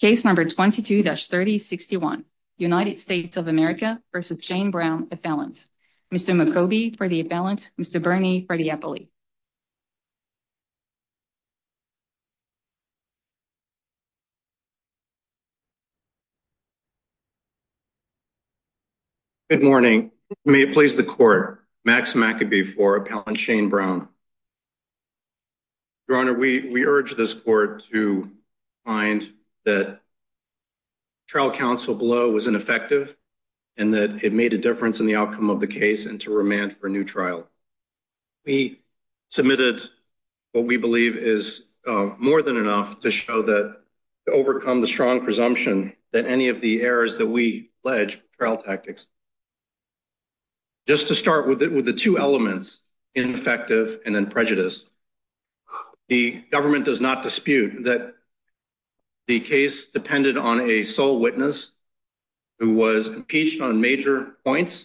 Case number 22-3061, United States of America versus Shane Browne appellant. Mr. McCobie for the appellant, Mr. Bernie for the appellate. Good morning. May it please the court. Max McCobie for appellant Shane Browne. Your Honor, we urge this court to find that trial counsel blow was ineffective and that it made a difference in the outcome of the case and to remand for a new trial. We submitted what we believe is more than enough to show that to overcome the strong presumption that any of the errors that we pledge trial tactics. Just to start with the two elements, ineffective and then prejudice, the government does not dispute that the case depended on a sole witness who was impeached on major points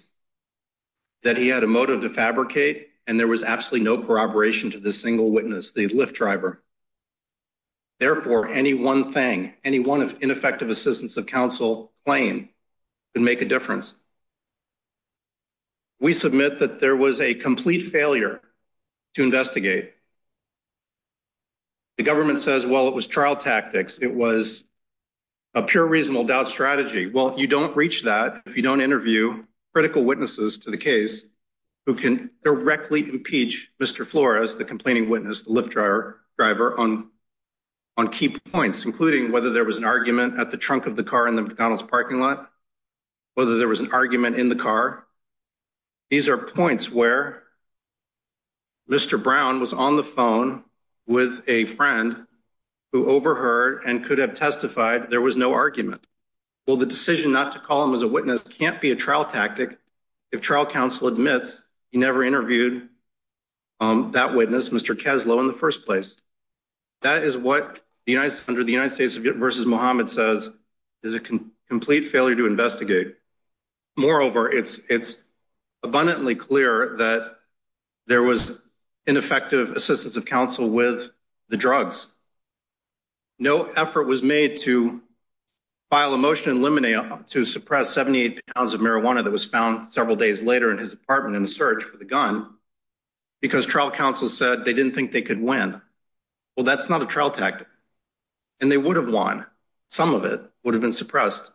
that he had a motive to fabricate and there was absolutely no corroboration to the single witness, the Lyft driver. Therefore, any one thing, any one of ineffective assistance of counsel claim and make a difference. We submit that there was a complete failure. To investigate the government says, well, it was trial tactics. It was. A pure reasonable doubt strategy. Well, you don't reach that. If you don't interview critical witnesses to the case who can directly impeach Mr. Flores, the complaining witness, the Lyft driver driver on. On key points, including whether there was an argument at the trunk of the car in the McDonald's parking lot. Whether there was an argument in the car, these are points where. Mr. Brown was on the phone with a friend. Who overheard and could have testified there was no argument. Well, the decision not to call him as a witness can't be a trial tactic. If trial counsel admits, you never interviewed. That witness Mr. Keslow in the 1st place. That is what the United under the United States versus Mohammed says. Is a complete failure to investigate. Moreover, it's it's. Abundantly clear that there was. Ineffective assistance of counsel with the drugs. No effort was made to. File a motion eliminate to suppress 70 pounds of marijuana that was found several days later in his apartment in the search for the gun. Because trial counsel said they didn't think they could win. Well, that's not a trial tactic and they would have won. Some of it would have been suppressed,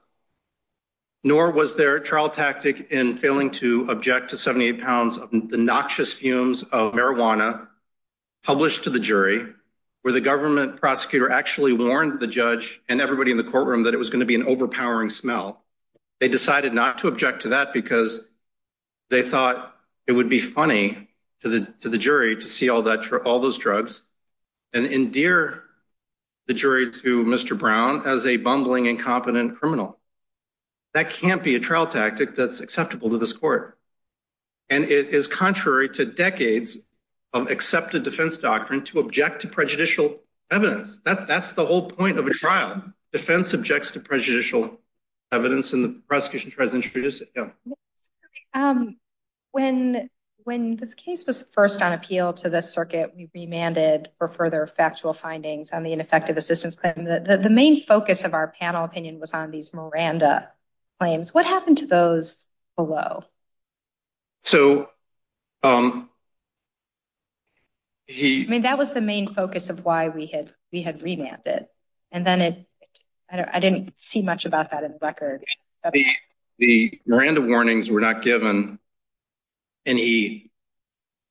nor was there a trial tactic in failing to object to 70 pounds of the noxious fumes of marijuana. Published to the jury where the government prosecutor actually warned the judge and everybody in the courtroom that it was gonna be an overpowering smell. They decided not to object to that because they thought it would be funny to the, to the jury to see all that for all those drugs. And endear the jury to Mr. Brown as a bumbling, incompetent criminal. That can't be a trial tactic that's acceptable to this court. And it is contrary to decades of accepted defense doctrine to object to prejudicial evidence. That's the whole point of a trial defense subjects to prejudicial. Evidence in the prosecution tries to introduce it. Yeah. When, when this case was first on appeal to the circuit, we remanded for further factual findings on the ineffective assistance claim that the main focus of our panel opinion was on these Miranda. Claims what happened to those below? So. Um, he, I mean, that was the main focus of why we had, we had remanded. And then it, I don't, I didn't see much about that in the record. The Miranda warnings were not given any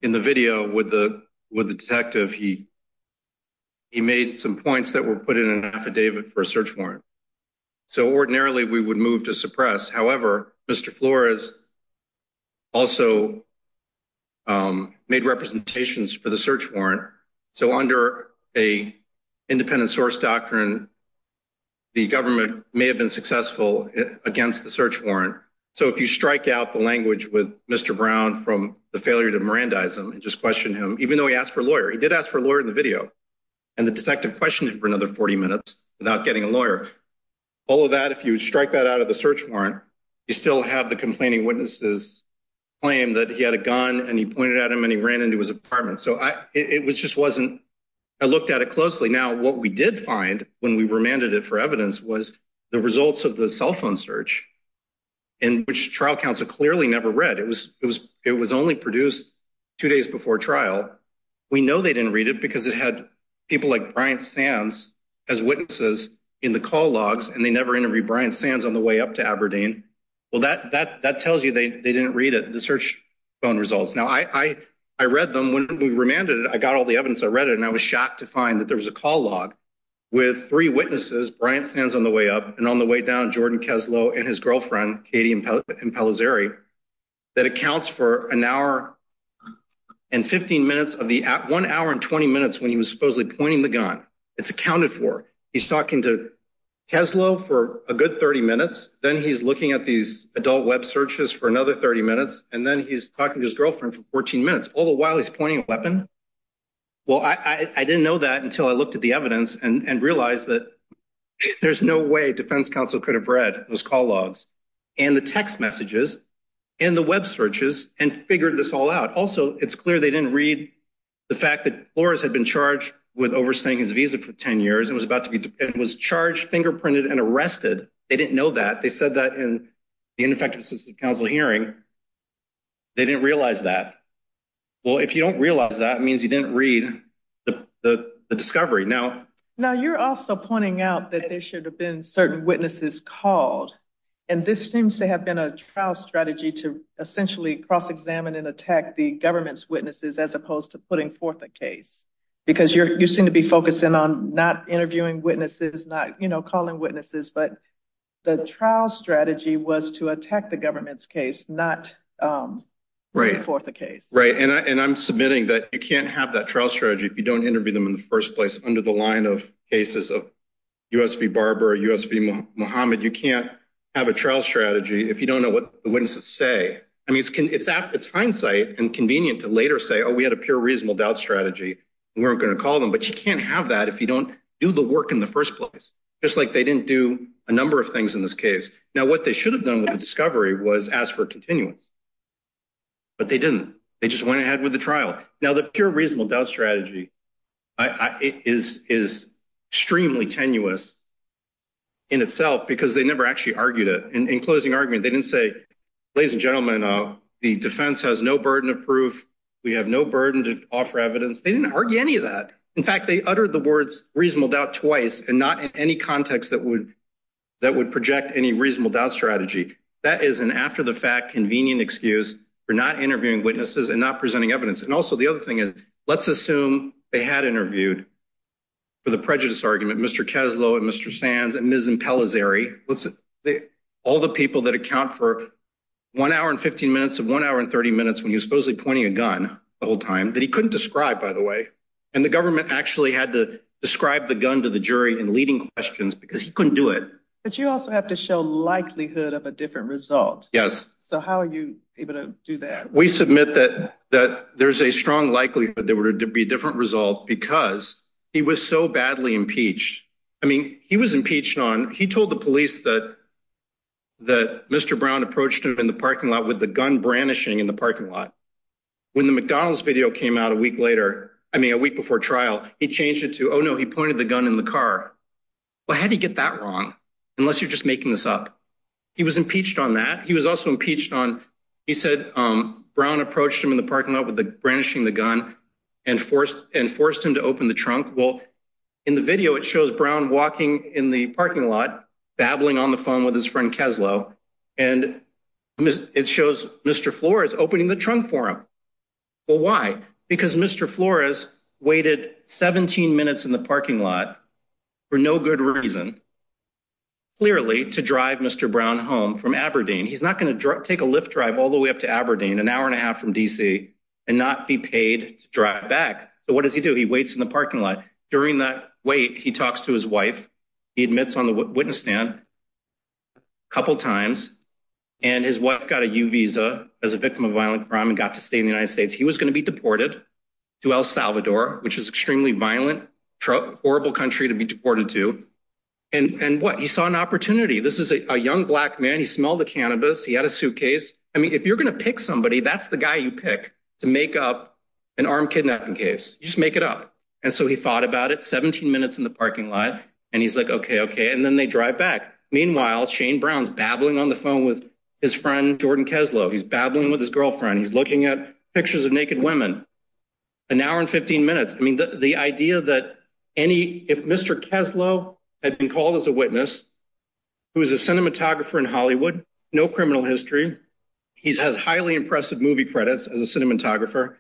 in the video with the, with the detective. He. He made some points that were put in an affidavit for a search warrant. So, ordinarily, we would move to suppress. However, Mr. Flores. Also, um, made representations for the search warrant. So, under a independent source doctrine, the government may have been successful against the search warrant. So, if you strike out the language with Mr. Brown from the failure to Miranda, and just question him, even though he asked for a lawyer, he did ask for a lawyer in the video. And the detective question for another 40 minutes without getting a lawyer. All of that, if you strike that out of the search warrant, you still have the complaining witnesses. Claim that he had a gun and he pointed out him and he ran into his apartment. So I, it was just wasn't. I looked at it closely. Now, what we did find when we remanded it for evidence was the results of the cell phone search. In which trial counsel clearly never read it was, it was, it was only produced. 2 days before trial, we know they didn't read it because it had. People like Brian sands as witnesses in the call logs, and they never interviewed Brian sands on the way up to Aberdeen. Well, that that that tells you they didn't read it. The search phone results. Now, I, I, I read them when we remanded it. I got all the evidence. I read it. And I was shocked to find that there was a call log with 3 witnesses. Brian stands on the way up and on the way down Jordan and his girlfriend, Katie and that accounts for an hour and 15 minutes of the 1 hour and 20 minutes when he was supposedly pointing the gun it's accounted for. He's talking to for a good 30 minutes. Then he's looking at these adult web searches for another 30 minutes. And then he's talking to his girlfriend for 14 minutes. All the while he's pointing a weapon. Well, I, I didn't know that until I looked at the evidence and realize that. There's no way defense counsel could have read those call logs. And the text messages and the web searches and figured this all out. Also, it's clear they didn't read. The fact that floors had been charged with overstaying his visa for 10 years, and was about to be was charged fingerprinted and arrested. They didn't know that. They said that in the ineffective system council hearing. They didn't realize that. Well, if you don't realize that means you didn't read. The discovery now, now you're also pointing out that there should have been certain witnesses called. And this seems to have been a trial strategy to essentially cross examine and attack the government's witnesses, as opposed to putting forth a case. Because you're, you seem to be focusing on not interviewing witnesses, not calling witnesses, but. The trial strategy was to attack the government's case, not. Right for the case, right? And I'm submitting that you can't have that trial strategy. If you don't interview them in the 1st place under the line of cases of. USB Barbara Muhammad, you can't have a trial strategy if you don't know what the witnesses say. I mean, it's, it's, it's hindsight and convenient to later say, oh, we had a pure reasonable doubt strategy. We're going to call them, but you can't have that if you don't do the work in the 1st place, just like they didn't do a number of things in this case. Now, what they should have done with the discovery was ask for continuance. But they didn't, they just went ahead with the trial. Now, the pure reasonable doubt strategy. Is is extremely tenuous in itself because they never actually argued it in closing argument. They didn't say, ladies and gentlemen, the defense has no burden of proof. We have no burden to offer evidence. They didn't argue any of that. In fact, they uttered the words reasonable doubt twice and not in any context that would. That would project any reasonable doubt strategy that is an after the fact, convenient excuse for not interviewing witnesses and not presenting evidence. And also, the other thing is, let's assume they had interviewed for the prejudice argument. Mr. Keslow and Mr. Sands and all the people that account for 1 hour and 15 minutes of 1 hour and 30 minutes when you supposedly pointing a gun the whole time that he couldn't describe, by the way, and the government actually had to describe the gun to the jury and leading questions because he couldn't do it. But you also have to show likelihood of a different result. Yes. So how are you able to do that? We submit that that there's a strong likelihood that there were to be different result because he was so badly impeached. I mean, he was impeached on he told the police that that Mr. Brown approached him in the parking lot with the gun brandishing in the parking lot. When the McDonald's video came out a week later, I mean, a week before trial, he changed it to oh, no, he pointed the gun in the car. Well, how do you get that wrong unless you're just making this up? He was impeached on that. He was also impeached on. He said, Brown approached him in the parking lot with the brandishing the gun and forced and forced him to open the trunk. Well, in the video, it shows Brown walking in the parking lot, babbling on the phone with his friend Kessler, and it shows Mr. Flores opening the trunk for him. Well, why? Because Mr. Flores waited seventeen minutes in the parking lot for no good reason. Clearly to drive Mr. Brown home from Aberdeen, he's not going to take a Lyft drive all the way up to Aberdeen an hour and a half from D.C. and not be paid to drive back. But what does he do? He waits in the parking lot during that wait. He talks to his wife. He admits on the witness stand. A couple of times and his wife got a U visa as a victim of violent crime and got to stay in the United States, he was going to be deported to El Salvador, which is extremely violent, horrible country to be deported to and what he saw an opportunity. This is a young black man. He smelled the cannabis. He had a suitcase. I mean, if you're going to pick somebody, that's the guy you pick to make up an armed kidnapping case. You just make it up. And so he thought about it. Seventeen minutes in the parking lot. And he's like, OK, OK. And then they drive back. Meanwhile, Shane Brown's babbling on the phone with his friend Jordan Kessler. He's babbling with his girlfriend. He's looking at pictures of naked women an hour and 15 minutes. I mean, the idea that any if Mr. Kessler had been called as a witness, who is a cinematographer in Hollywood, no criminal history, he has highly impressive movie credits as a cinematographer.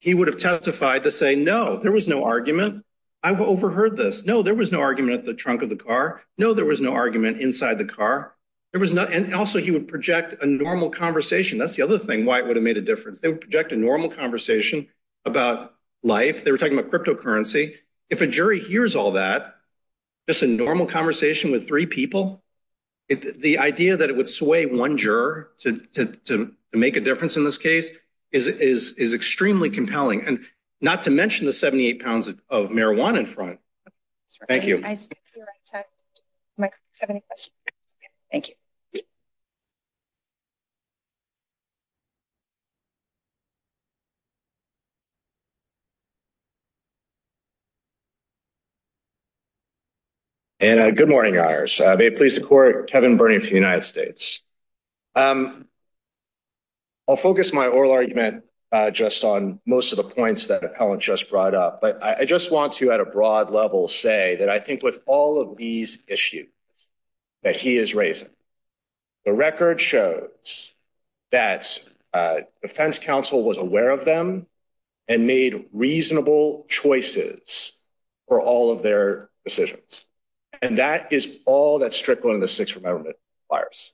He would have testified to say, no, there was no argument. I overheard this. No, there was no argument at the trunk of the car. No, there was no argument inside the car. There was not. And also he would project a normal conversation. That's the other thing. Why would it made a difference? They would project a normal conversation about life. They were talking about cryptocurrency. If a jury hears all that, just a normal conversation with three people. The idea that it would sway one juror to make a difference in this case is is is extremely compelling. And not to mention the 78 pounds of marijuana in front. Thank you. Thank you. And a good morning, may it please the court. Kevin burning for the United States. I'll focus my oral argument just on most of the points that Helen just brought up, but I just want to, at a broad level, say that I think with all of these issues that he is raising, the record shows that defense counsel was aware of them and made reasonable suggestions. And reasonable choices for all of their decisions. And that is all that's trickling in the 6th amendment fires.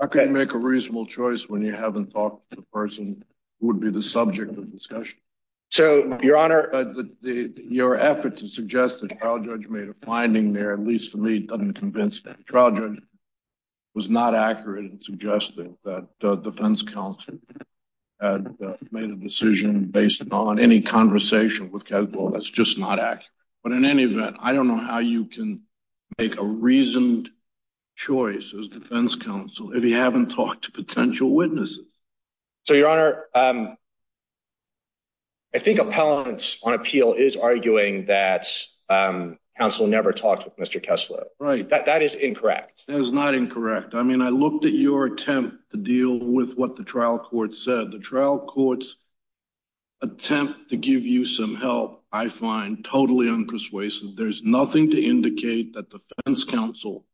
I can make a reasonable choice when you haven't talked to the person would be the subject of discussion. So, your honor, your effort to suggest that trial judge made a finding there, at least for me, doesn't convince that. Was not accurate in suggesting that the defense counsel made a decision based on any conversation with that's just not accurate. But in any event, I don't know how you can make a reason. Choices defense counsel, if you haven't talked to potential witnesses. So, your honor, I think on appeal is arguing that council never talked with Mr. Kessler, right? That that is incorrect. That is not incorrect. I mean, I looked at your attempt to deal with what the trial court said the trial courts. Attempt to give you some help, I find totally unpersuasive. There's nothing to indicate that defense counsel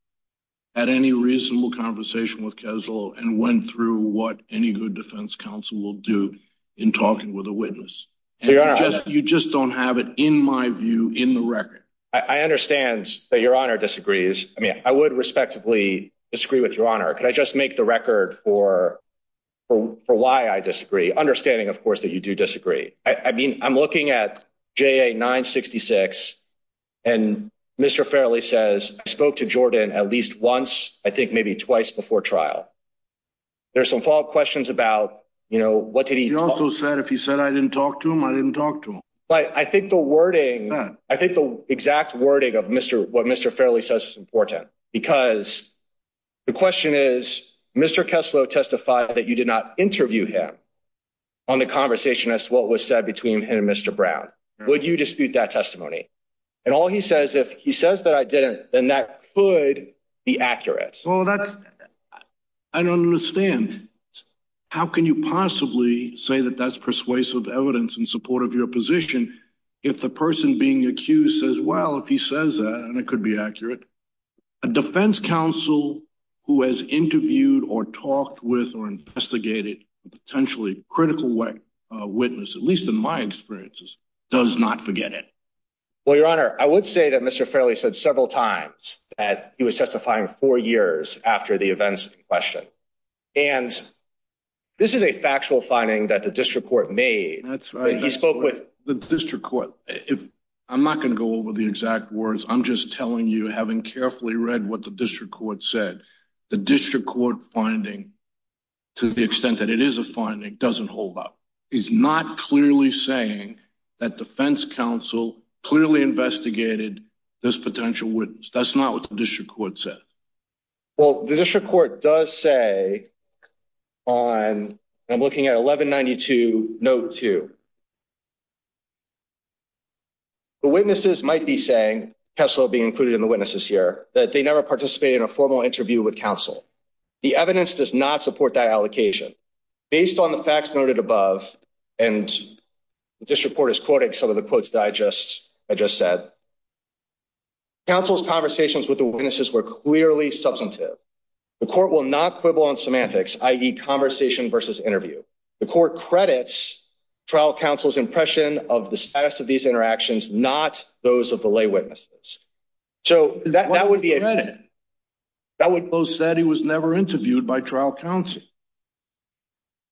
at any reasonable conversation with casual and went through what any good defense counsel will do in talking with a witness. You just don't have it in my view in the record. I understand that your honor disagrees. I mean, I would respectively disagree with your honor. Could I just make the record for for why I disagree understanding? Of course, that you do disagree. I mean, I'm looking at J. A. 966 and Mr. Fairley says I spoke to Jordan at least once, I think maybe twice before trial. There's some follow up questions about, you know, what did he also said? If he said I didn't talk to him, I didn't talk to him. But I think the wording I think the exact wording of Mr. What Mr. Fairley says is important because the question is, Mr. Kessler testified that you did not interview him on the conversation as to what was said between him and Mr. Brown. Would you dispute that testimony? And all he says, if he says that I didn't, then that could be accurate. Well, that's I don't understand. How can you possibly say that that's persuasive evidence in support of your position? If the person being accused says, well, if he says that and it could be accurate, a defense counsel who has interviewed or talked with or investigated potentially critical witness, at least in my experiences, does not forget it. Well, Your Honor, I would say that Mr. Fairley said several times that he was testifying four years after the events in question. And this is a factual finding that the district court made. That's right. He spoke with the district court. I'm not going to go over the exact words. I'm just telling you, having carefully read what the district court said, the district court finding, to the extent that it is a finding, doesn't hold up. He's not clearly saying that defense counsel clearly investigated this potential witness. That's not what the district court said. Well, the district court does say on, I'm looking at 1192 note two. The witnesses might be saying, Kessler being included in the witnesses here, that they never participate in a formal interview with counsel. The evidence does not support that allocation based on the facts noted above. And the district court is quoting some of the quotes that I just said. Counsel's conversations with the witnesses were clearly substantive. The court will not quibble on semantics, i.e. conversation versus interview. The court credits trial counsel's impression of the status of these interactions, not those of the lay witnesses. So that would be a credit that would post that he was never interviewed by trial counsel.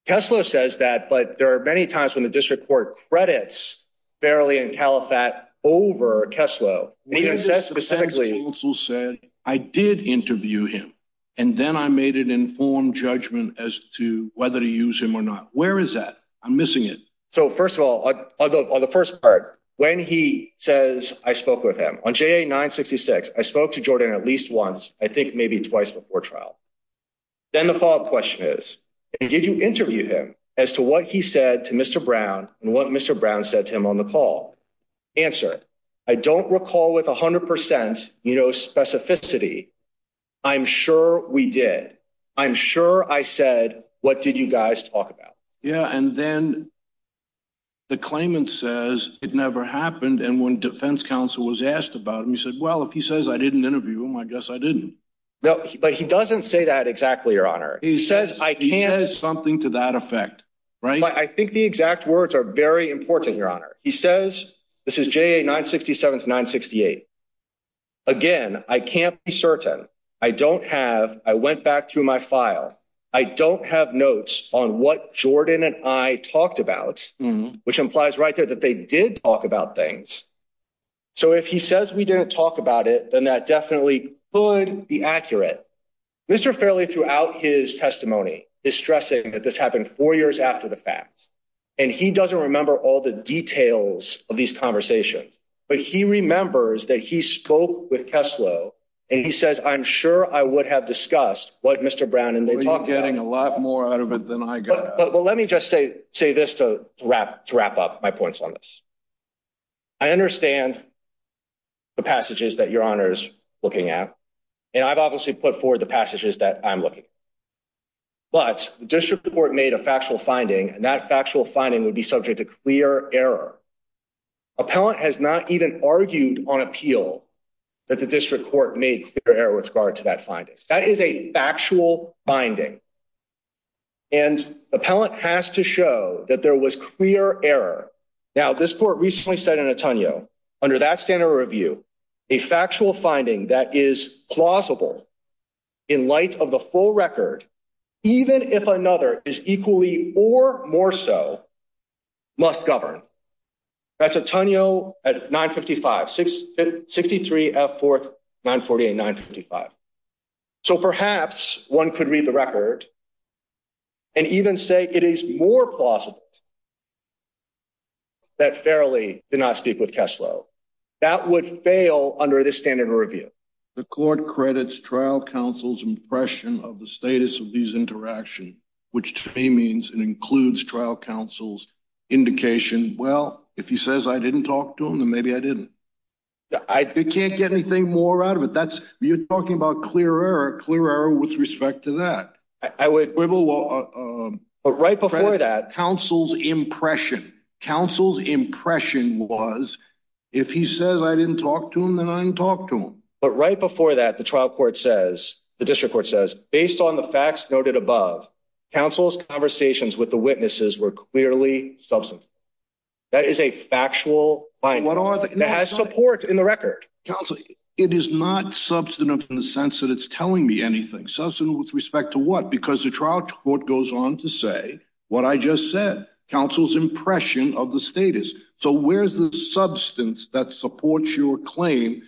Kessler says that, but there are many times when the district court credits barely in Califat over Kessler. He says specifically, I did interview him and then I made an informed judgment as to whether to use him or not. Where is that? I'm missing it. So, first of all, on the first part, when he says, I spoke with him on J.A. 966, I spoke to Jordan at least once, I think maybe twice before trial. Then the follow up question is, did you interview him as to what he said to Mr. Brown and what Mr. Brown said to him on the call? Answer, I don't recall with 100%, you know, specificity. I'm sure we did. I'm sure I said, what did you guys talk about? Yeah, and then. The claimant says it never happened, and when defense counsel was asked about him, he said, well, if he says I didn't interview him, I guess I didn't know, but he doesn't say that exactly, your honor. He says I can't say something to that effect. Right. I think the exact words are very important, your honor. He says this is J.A. 967 to 968. Again, I can't be certain I don't have I went back through my file. I don't have notes on what Jordan and I talked about, which implies right there that they did talk about things. So if he says we didn't talk about it, then that definitely could be accurate. Mr. Fairley throughout his testimony is stressing that this happened four years after the fact, and he doesn't remember all the details of these conversations. But he remembers that he spoke with Kessler and he says, I'm sure I would have discussed what Mr. Brown and they were getting a lot more out of it than I got. But let me just say, say this to wrap to wrap up my points on this. I understand. The passages that your honor's looking at, and I've obviously put forward the passages that I'm looking. But the district court made a factual finding, and that factual finding would be subject to clear error. Appellant has not even argued on appeal that the district court made clear error with regard to that findings. That is a factual binding and appellant has to show that there was clear error. Now, this court recently said in Antonio under that standard review, a factual finding that is plausible in light of the full record, even if another is equally or more. So must govern. That's Antonio at nine fifty five, six, sixty three, four, nine, forty eight, nine, fifty five. So perhaps one could read the record. And even say it is more plausible. That fairly did not speak with Kessler that would fail under this standard review, the court credits trial counsel's impression of the status of these interaction, which to me means it includes trial. Counsel's indication. Well, if he says I didn't talk to him, then maybe I didn't I can't get anything more out of it. That's you're talking about clear error, clear error with respect to that. I would. But right before that counsel's impression, counsel's impression was, if he says I didn't talk to him, then I didn't talk to him. But right before that, the trial court says the district court says, based on the facts noted above, counsel's conversations with the witnesses were clearly substance. That is a factual line that has support in the record council. It is not substantive in the sense that it's telling me anything with respect to what? Because the trial court goes on to say what I just said counsel's impression of the status. So, where's the substance that supports your claim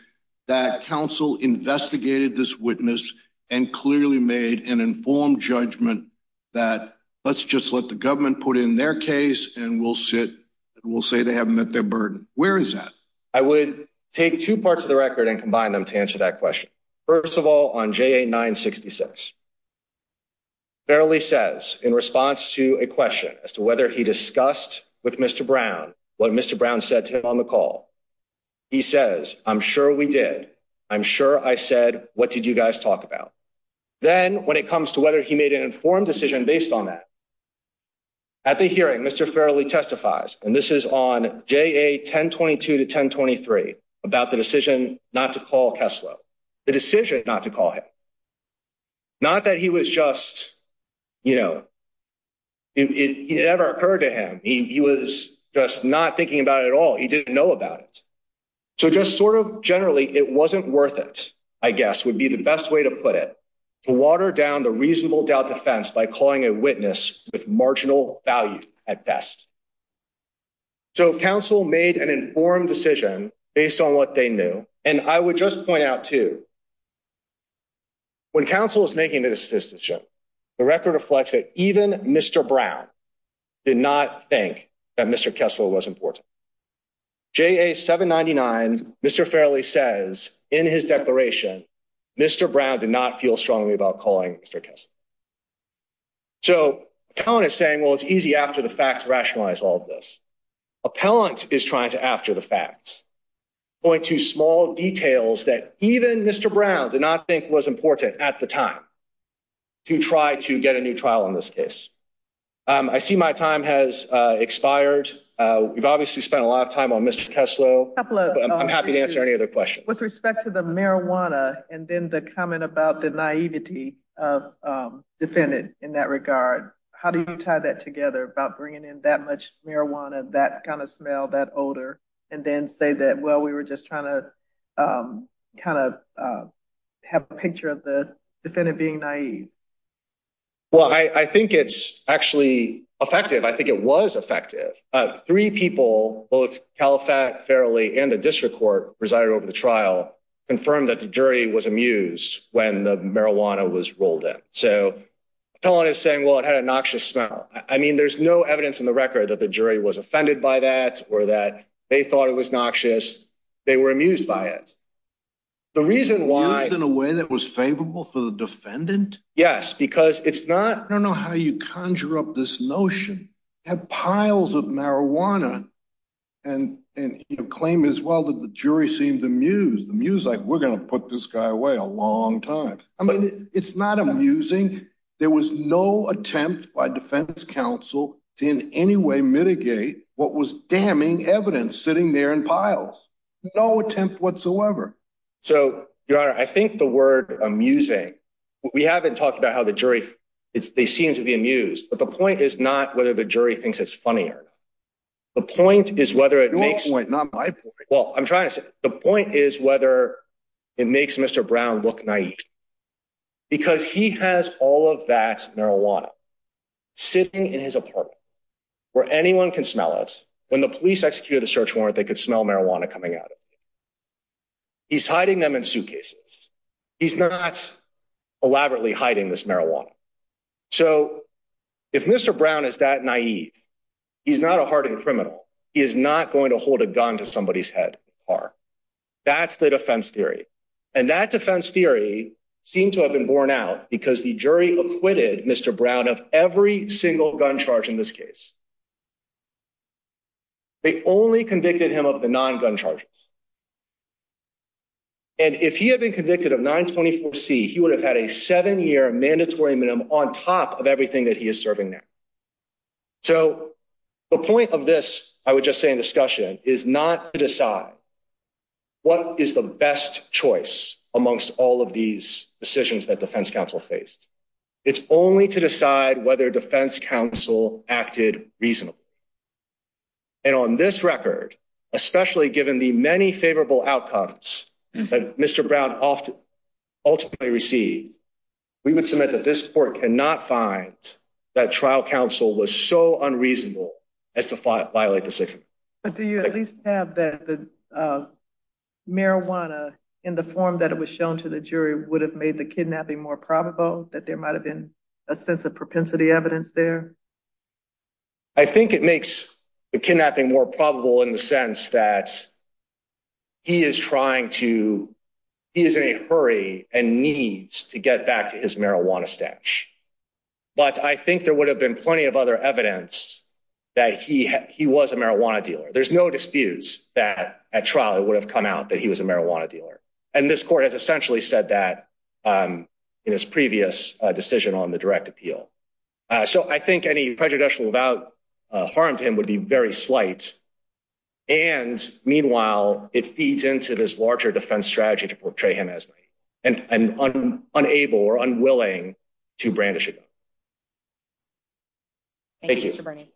that counsel investigated this witness and clearly made an informed judgment that let's just let the government put in their case and we'll sit. We'll say they haven't met their burden. Where is that? I would take 2 parts of the record and combine them to answer that question. 1st of all, on J, a 960 cents. Fairly says in response to a question as to whether he discussed with Mr. Brown, what Mr. Brown said to him on the call. He says, I'm sure we did. I'm sure I said, what did you guys talk about? Then, when it comes to whether he made an informed decision based on that. At the hearing, Mr. fairly testifies, and this is on 1022 to 1023 about the decision not to call Kessler. The decision not to call it, not that he was just. You know, it never occurred to him. He was just not thinking about it at all. He didn't know about it. So, just sort of generally, it wasn't worth it. I guess would be the best way to put it. To water down the reasonable doubt defense by calling a witness with marginal value at best. So, counsel made an informed decision based on what they knew and I would just point out to. When counsel is making the decision, the record reflects that even Mr. Brown. Did not think that Mr. Kessler was important. J, a 799, Mr. fairly says in his declaration. Mr. Brown did not feel strongly about calling Mr. Kessler. So, is saying, well, it's easy after the fact rationalize all of this. Appellant is trying to after the facts. Point to small details that even Mr. Brown did not think was important at the time. To try to get a new trial on this case. I see my time has expired. We've obviously spent a lot of time on Mr. Kessler. I'm happy to answer any other questions with respect to the marijuana. And then the comment about the naivety of defendant in that regard. How do you tie that together about bringing in that much marijuana? That kind of smell that older and then say that? Well, we were just trying to kind of have a picture of the defendant being naive. Well, I think it's actually effective. I think it was effective. 3 people both Califat fairly and the district court resided over the trial. Confirm that the jury was amused when the marijuana was rolled up. So, telling is saying, well, it had a noxious smell. I mean, there's no evidence in the record that the jury was offended by that. Or that they thought it was noxious. They were amused by it. The reason why in a way that was favorable for the defendant. Yes, because it's not I don't know how you conjure up this notion. Have piles of marijuana. And claim as well that the jury seemed amused. The music we're going to put this guy away a long time. I mean, it's not amusing. There was no attempt by defense counsel to in any way mitigate what was damning evidence sitting there in piles. No attempt whatsoever. So, your honor, I think the word amusing. We haven't talked about how the jury. It's they seem to be amused. But the point is not whether the jury thinks it's funnier. The point is whether it makes. Your point, not my point. Well, I'm trying to say the point is whether it makes Mr. Brown look naive. Because he has all of that marijuana. Sitting in his apartment where anyone can smell it. When the police executed the search warrant, they could smell marijuana coming out. He's hiding them in suitcases. He's not elaborately hiding this marijuana. So, if Mr. Brown is that naive, he's not a hardened criminal. He is not going to hold a gun to somebody's head. Or that's the defense theory. And that defense theory seemed to have been borne out because the jury acquitted Mr. Brown of every single gun charge in this case. They only convicted him of the non gun charges. And if he had been convicted of 924 C, he would have had a seven year mandatory minimum on top of everything that he is serving now. So, the point of this, I would just say in discussion is not to decide what is the best choice amongst all of these decisions that defense counsel faced. It's only to decide whether defense counsel acted reasonably. And on this record, especially given the many favorable outcomes that Mr. Brown ultimately received, we would submit that this court cannot find that trial counsel was so unreasonable as to violate the Sixth Amendment. But do you at least have that the marijuana in the form that it was shown to the jury would have made the kidnapping more probable? That there might have been a sense of propensity evidence there? I think it makes the kidnapping more probable in the sense that he is trying to, he is in a hurry and needs to get back to his marijuana stash. But I think there would have been plenty of other evidence that he was a marijuana dealer. There's no disputes that at trial it would have come out that he was a marijuana dealer. And this court has essentially said that in his previous decision on the direct appeal. So I think any prejudicial about harm to him would be very slight. And meanwhile, it feeds into this larger defense strategy to portray him as unable or unwilling to brandish a gun. Thank you, Mr. Bernie.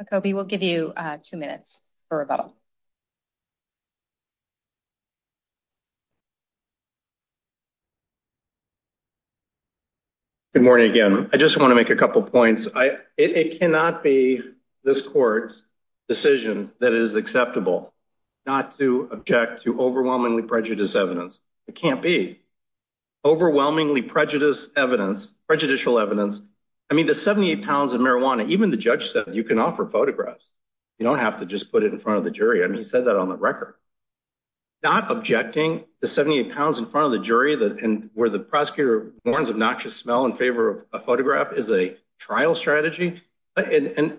Mr. McCoby, we'll give you two minutes for rebuttal. Good morning again. I just want to make a couple of points. It cannot be this court's decision that is acceptable not to object to overwhelmingly prejudiced evidence. It can't be. Overwhelmingly prejudiced evidence, prejudicial evidence. I mean, the 78 pounds of marijuana, even the judge said you can offer photographs. You don't have to just put it in front of the jury. I mean, he said that on the record. Not objecting the 78 pounds in front of the jury and where the prosecutor warns obnoxious smell in favor of a photograph is a trial strategy. And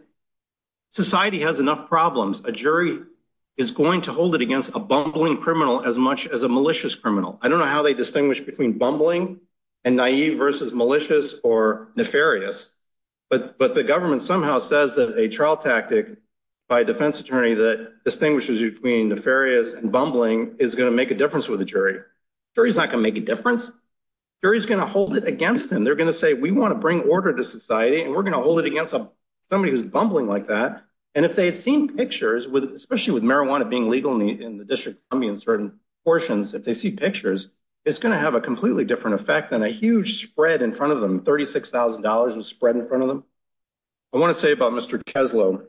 society has enough problems. A jury is going to hold it against a bumbling criminal as much as a malicious criminal. I don't know how they distinguish between bumbling and naive versus malicious or nefarious. But the government somehow says that a trial tactic by a defense attorney that distinguishes between nefarious and bumbling is going to make a difference with the jury. Jury's not going to make a difference. Jury's going to hold it against them. They're going to say, we want to bring order to society, and we're going to hold it against somebody who's bumbling like that. And if they had seen pictures, especially with marijuana being legal in the district certain portions, if they see pictures, it's going to have a completely different effect than a huge spread in front of them. Thirty six thousand dollars was spread in front of them. I want to say about Mr. Kessler.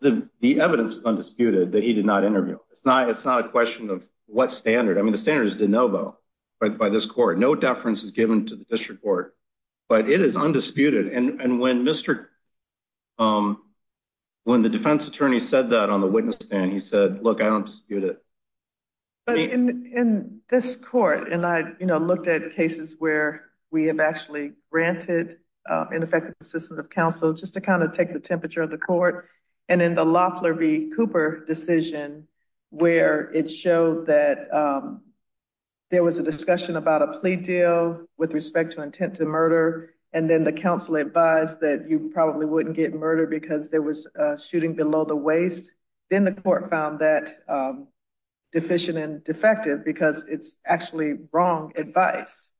The evidence is undisputed that he did not interview. It's not it's not a question of what standard. I mean, the standard is de novo by this court. No deference is given to the district court, but it is undisputed. And when Mr. when the defense attorney said that on the witness stand, he said, look, I don't dispute it in this court. And I looked at cases where we have actually granted ineffective assistance of counsel just to kind of take the temperature of the court. And in the Loeffler v. Cooper decision, where it showed that there was a discussion about a plea deal with respect to intent to murder. And then the counsel advised that you probably wouldn't get murdered because there was a shooting below the waist. Then the court found that deficient and defective because it's actually wrong advice.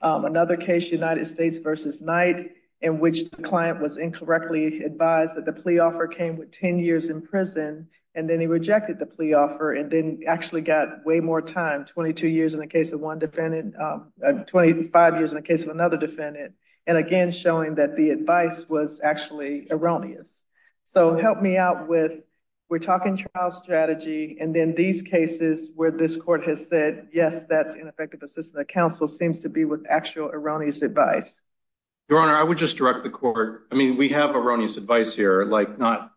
Another case, United States v. Knight, in which the client was incorrectly advised that the plea offer came with 10 years in prison and then he rejected the plea offer and then actually got way more time, 22 years in the case of one defendant, 25 years in the case of another defendant. And again, showing that the advice was actually erroneous. So help me out with we're talking trial strategy. And then these cases where this court has said, yes, that's ineffective assistance of counsel seems to be with actual erroneous advice. Your Honor, I would just direct the court. I mean, we have erroneous advice here, like not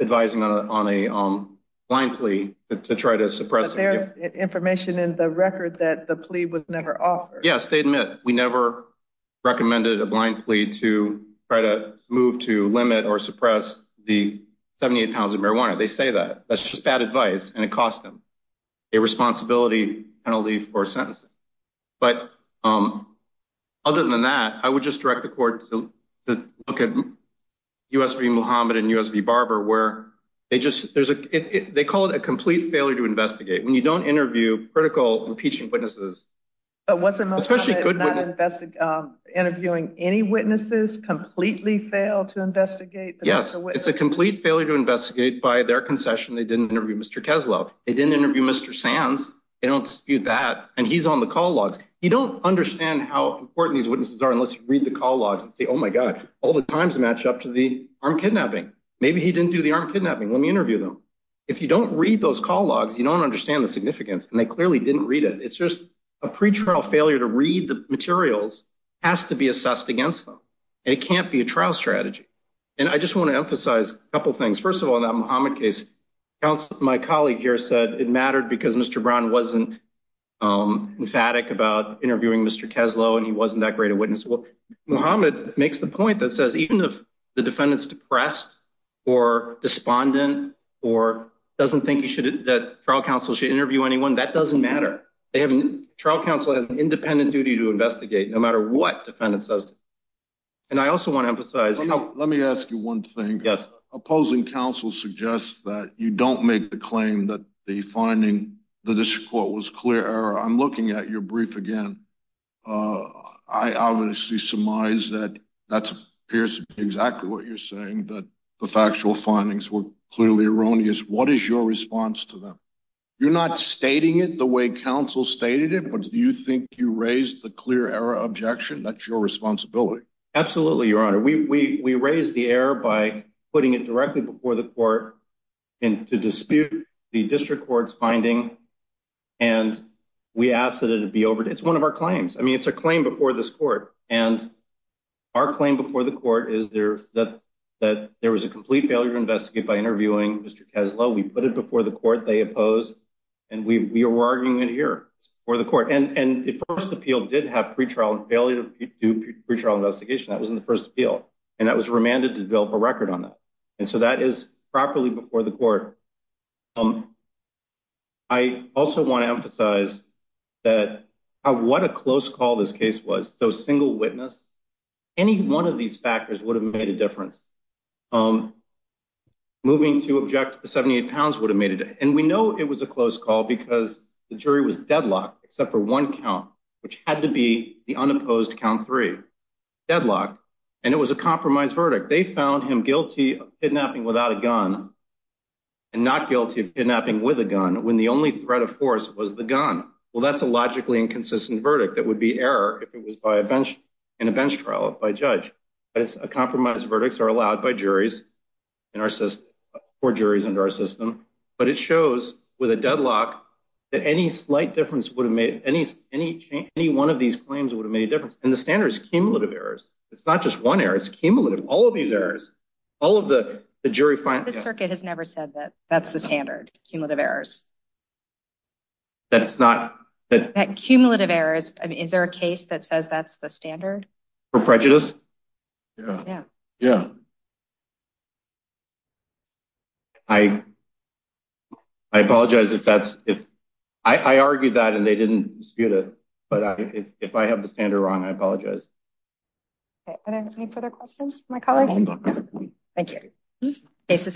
advising on a blind plea to try to suppress information in the record that the plea was never offered. Yes, they admit we never recommended a blind plea to try to move to limit or suppress the 78 pounds of marijuana. They say that that's just bad advice and it cost them a responsibility penalty for sentencing. But other than that, I would just direct the court to look at U.S. v. Muhammad and U.S. v. Don't interview critical impeaching witnesses. But what's the most interesting interviewing any witnesses completely fail to investigate? Yes, it's a complete failure to investigate by their concession. They didn't interview Mr. Kessler. They didn't interview Mr. Sands. They don't dispute that. And he's on the call logs. You don't understand how important these witnesses are unless you read the call logs and say, oh, my God, all the times match up to the arm kidnapping. Maybe he didn't do the arm kidnapping. Let me interview them. If you don't read those call logs, you don't understand the significance. And they clearly didn't read it. It's just a pretrial failure to read the materials has to be assessed against them. And it can't be a trial strategy. And I just want to emphasize a couple of things. First of all, that Muhammad case, my colleague here said it mattered because Mr. Brown wasn't emphatic about interviewing Mr. Kessler and he wasn't that great a witness. Well, Muhammad makes the point that says even if the defendant's depressed or despondent or doesn't think you should that trial counsel should interview anyone, that doesn't matter. They haven't. Trial counsel has an independent duty to investigate no matter what defendant says. And I also want to emphasize. Let me ask you one thing. Yes. Opposing counsel suggests that you don't make the claim that the finding, the district court was clear. I'm looking at your brief again. I obviously surmise that that appears to be exactly what you're saying, that the factual findings were clearly erroneous. What is your response to them? You're not stating it the way counsel stated it. But do you think you raised the clear error objection? That's your responsibility. Absolutely. Your Honor, we raised the error by putting it directly before the court and to dispute the district court's finding. And we asked that it be over. It's one of our claims. I mean, it's a claim before this court. And our claim before the court is that there was a complete failure to investigate by interviewing Mr. Keslow. We put it before the court. They opposed. And we were arguing it here before the court. And the first appeal did have pre-trial failure to do pre-trial investigation. That was in the first appeal. And that was remanded to develop a record on that. And so that is properly before the court. I also want to emphasize that what a close call this case was. So single witness, any one of these factors would have made a difference. Moving to object, the 78 pounds would have made it. And we know it was a close call because the jury was deadlocked except for one count, which had to be the unopposed count three. Deadlocked. And it was a compromise verdict. They found him guilty of kidnapping without a gun and not guilty of kidnapping with a gun when the only threat of force was the gun. Well, that's a logically inconsistent verdict. That would be error if it was by a bench in a bench trial by a judge. But it's a compromise. Verdicts are allowed by juries in our system or juries under our system. But it shows with a deadlock that any slight difference would have made any, any, any one of these claims would have made a difference. And the standard is cumulative errors. It's not just one error. It's cumulative. All of these errors, all of the jury. The circuit has never said that that's the standard cumulative errors. That's not that cumulative errors. I mean, is there a case that says that's the standard for prejudice? Yeah, yeah, I, I apologize if that's if I argued that and they didn't get it. But I think if I have the standard wrong, I apologize. Okay. Are there any further questions for my colleagues? Thank you. This is.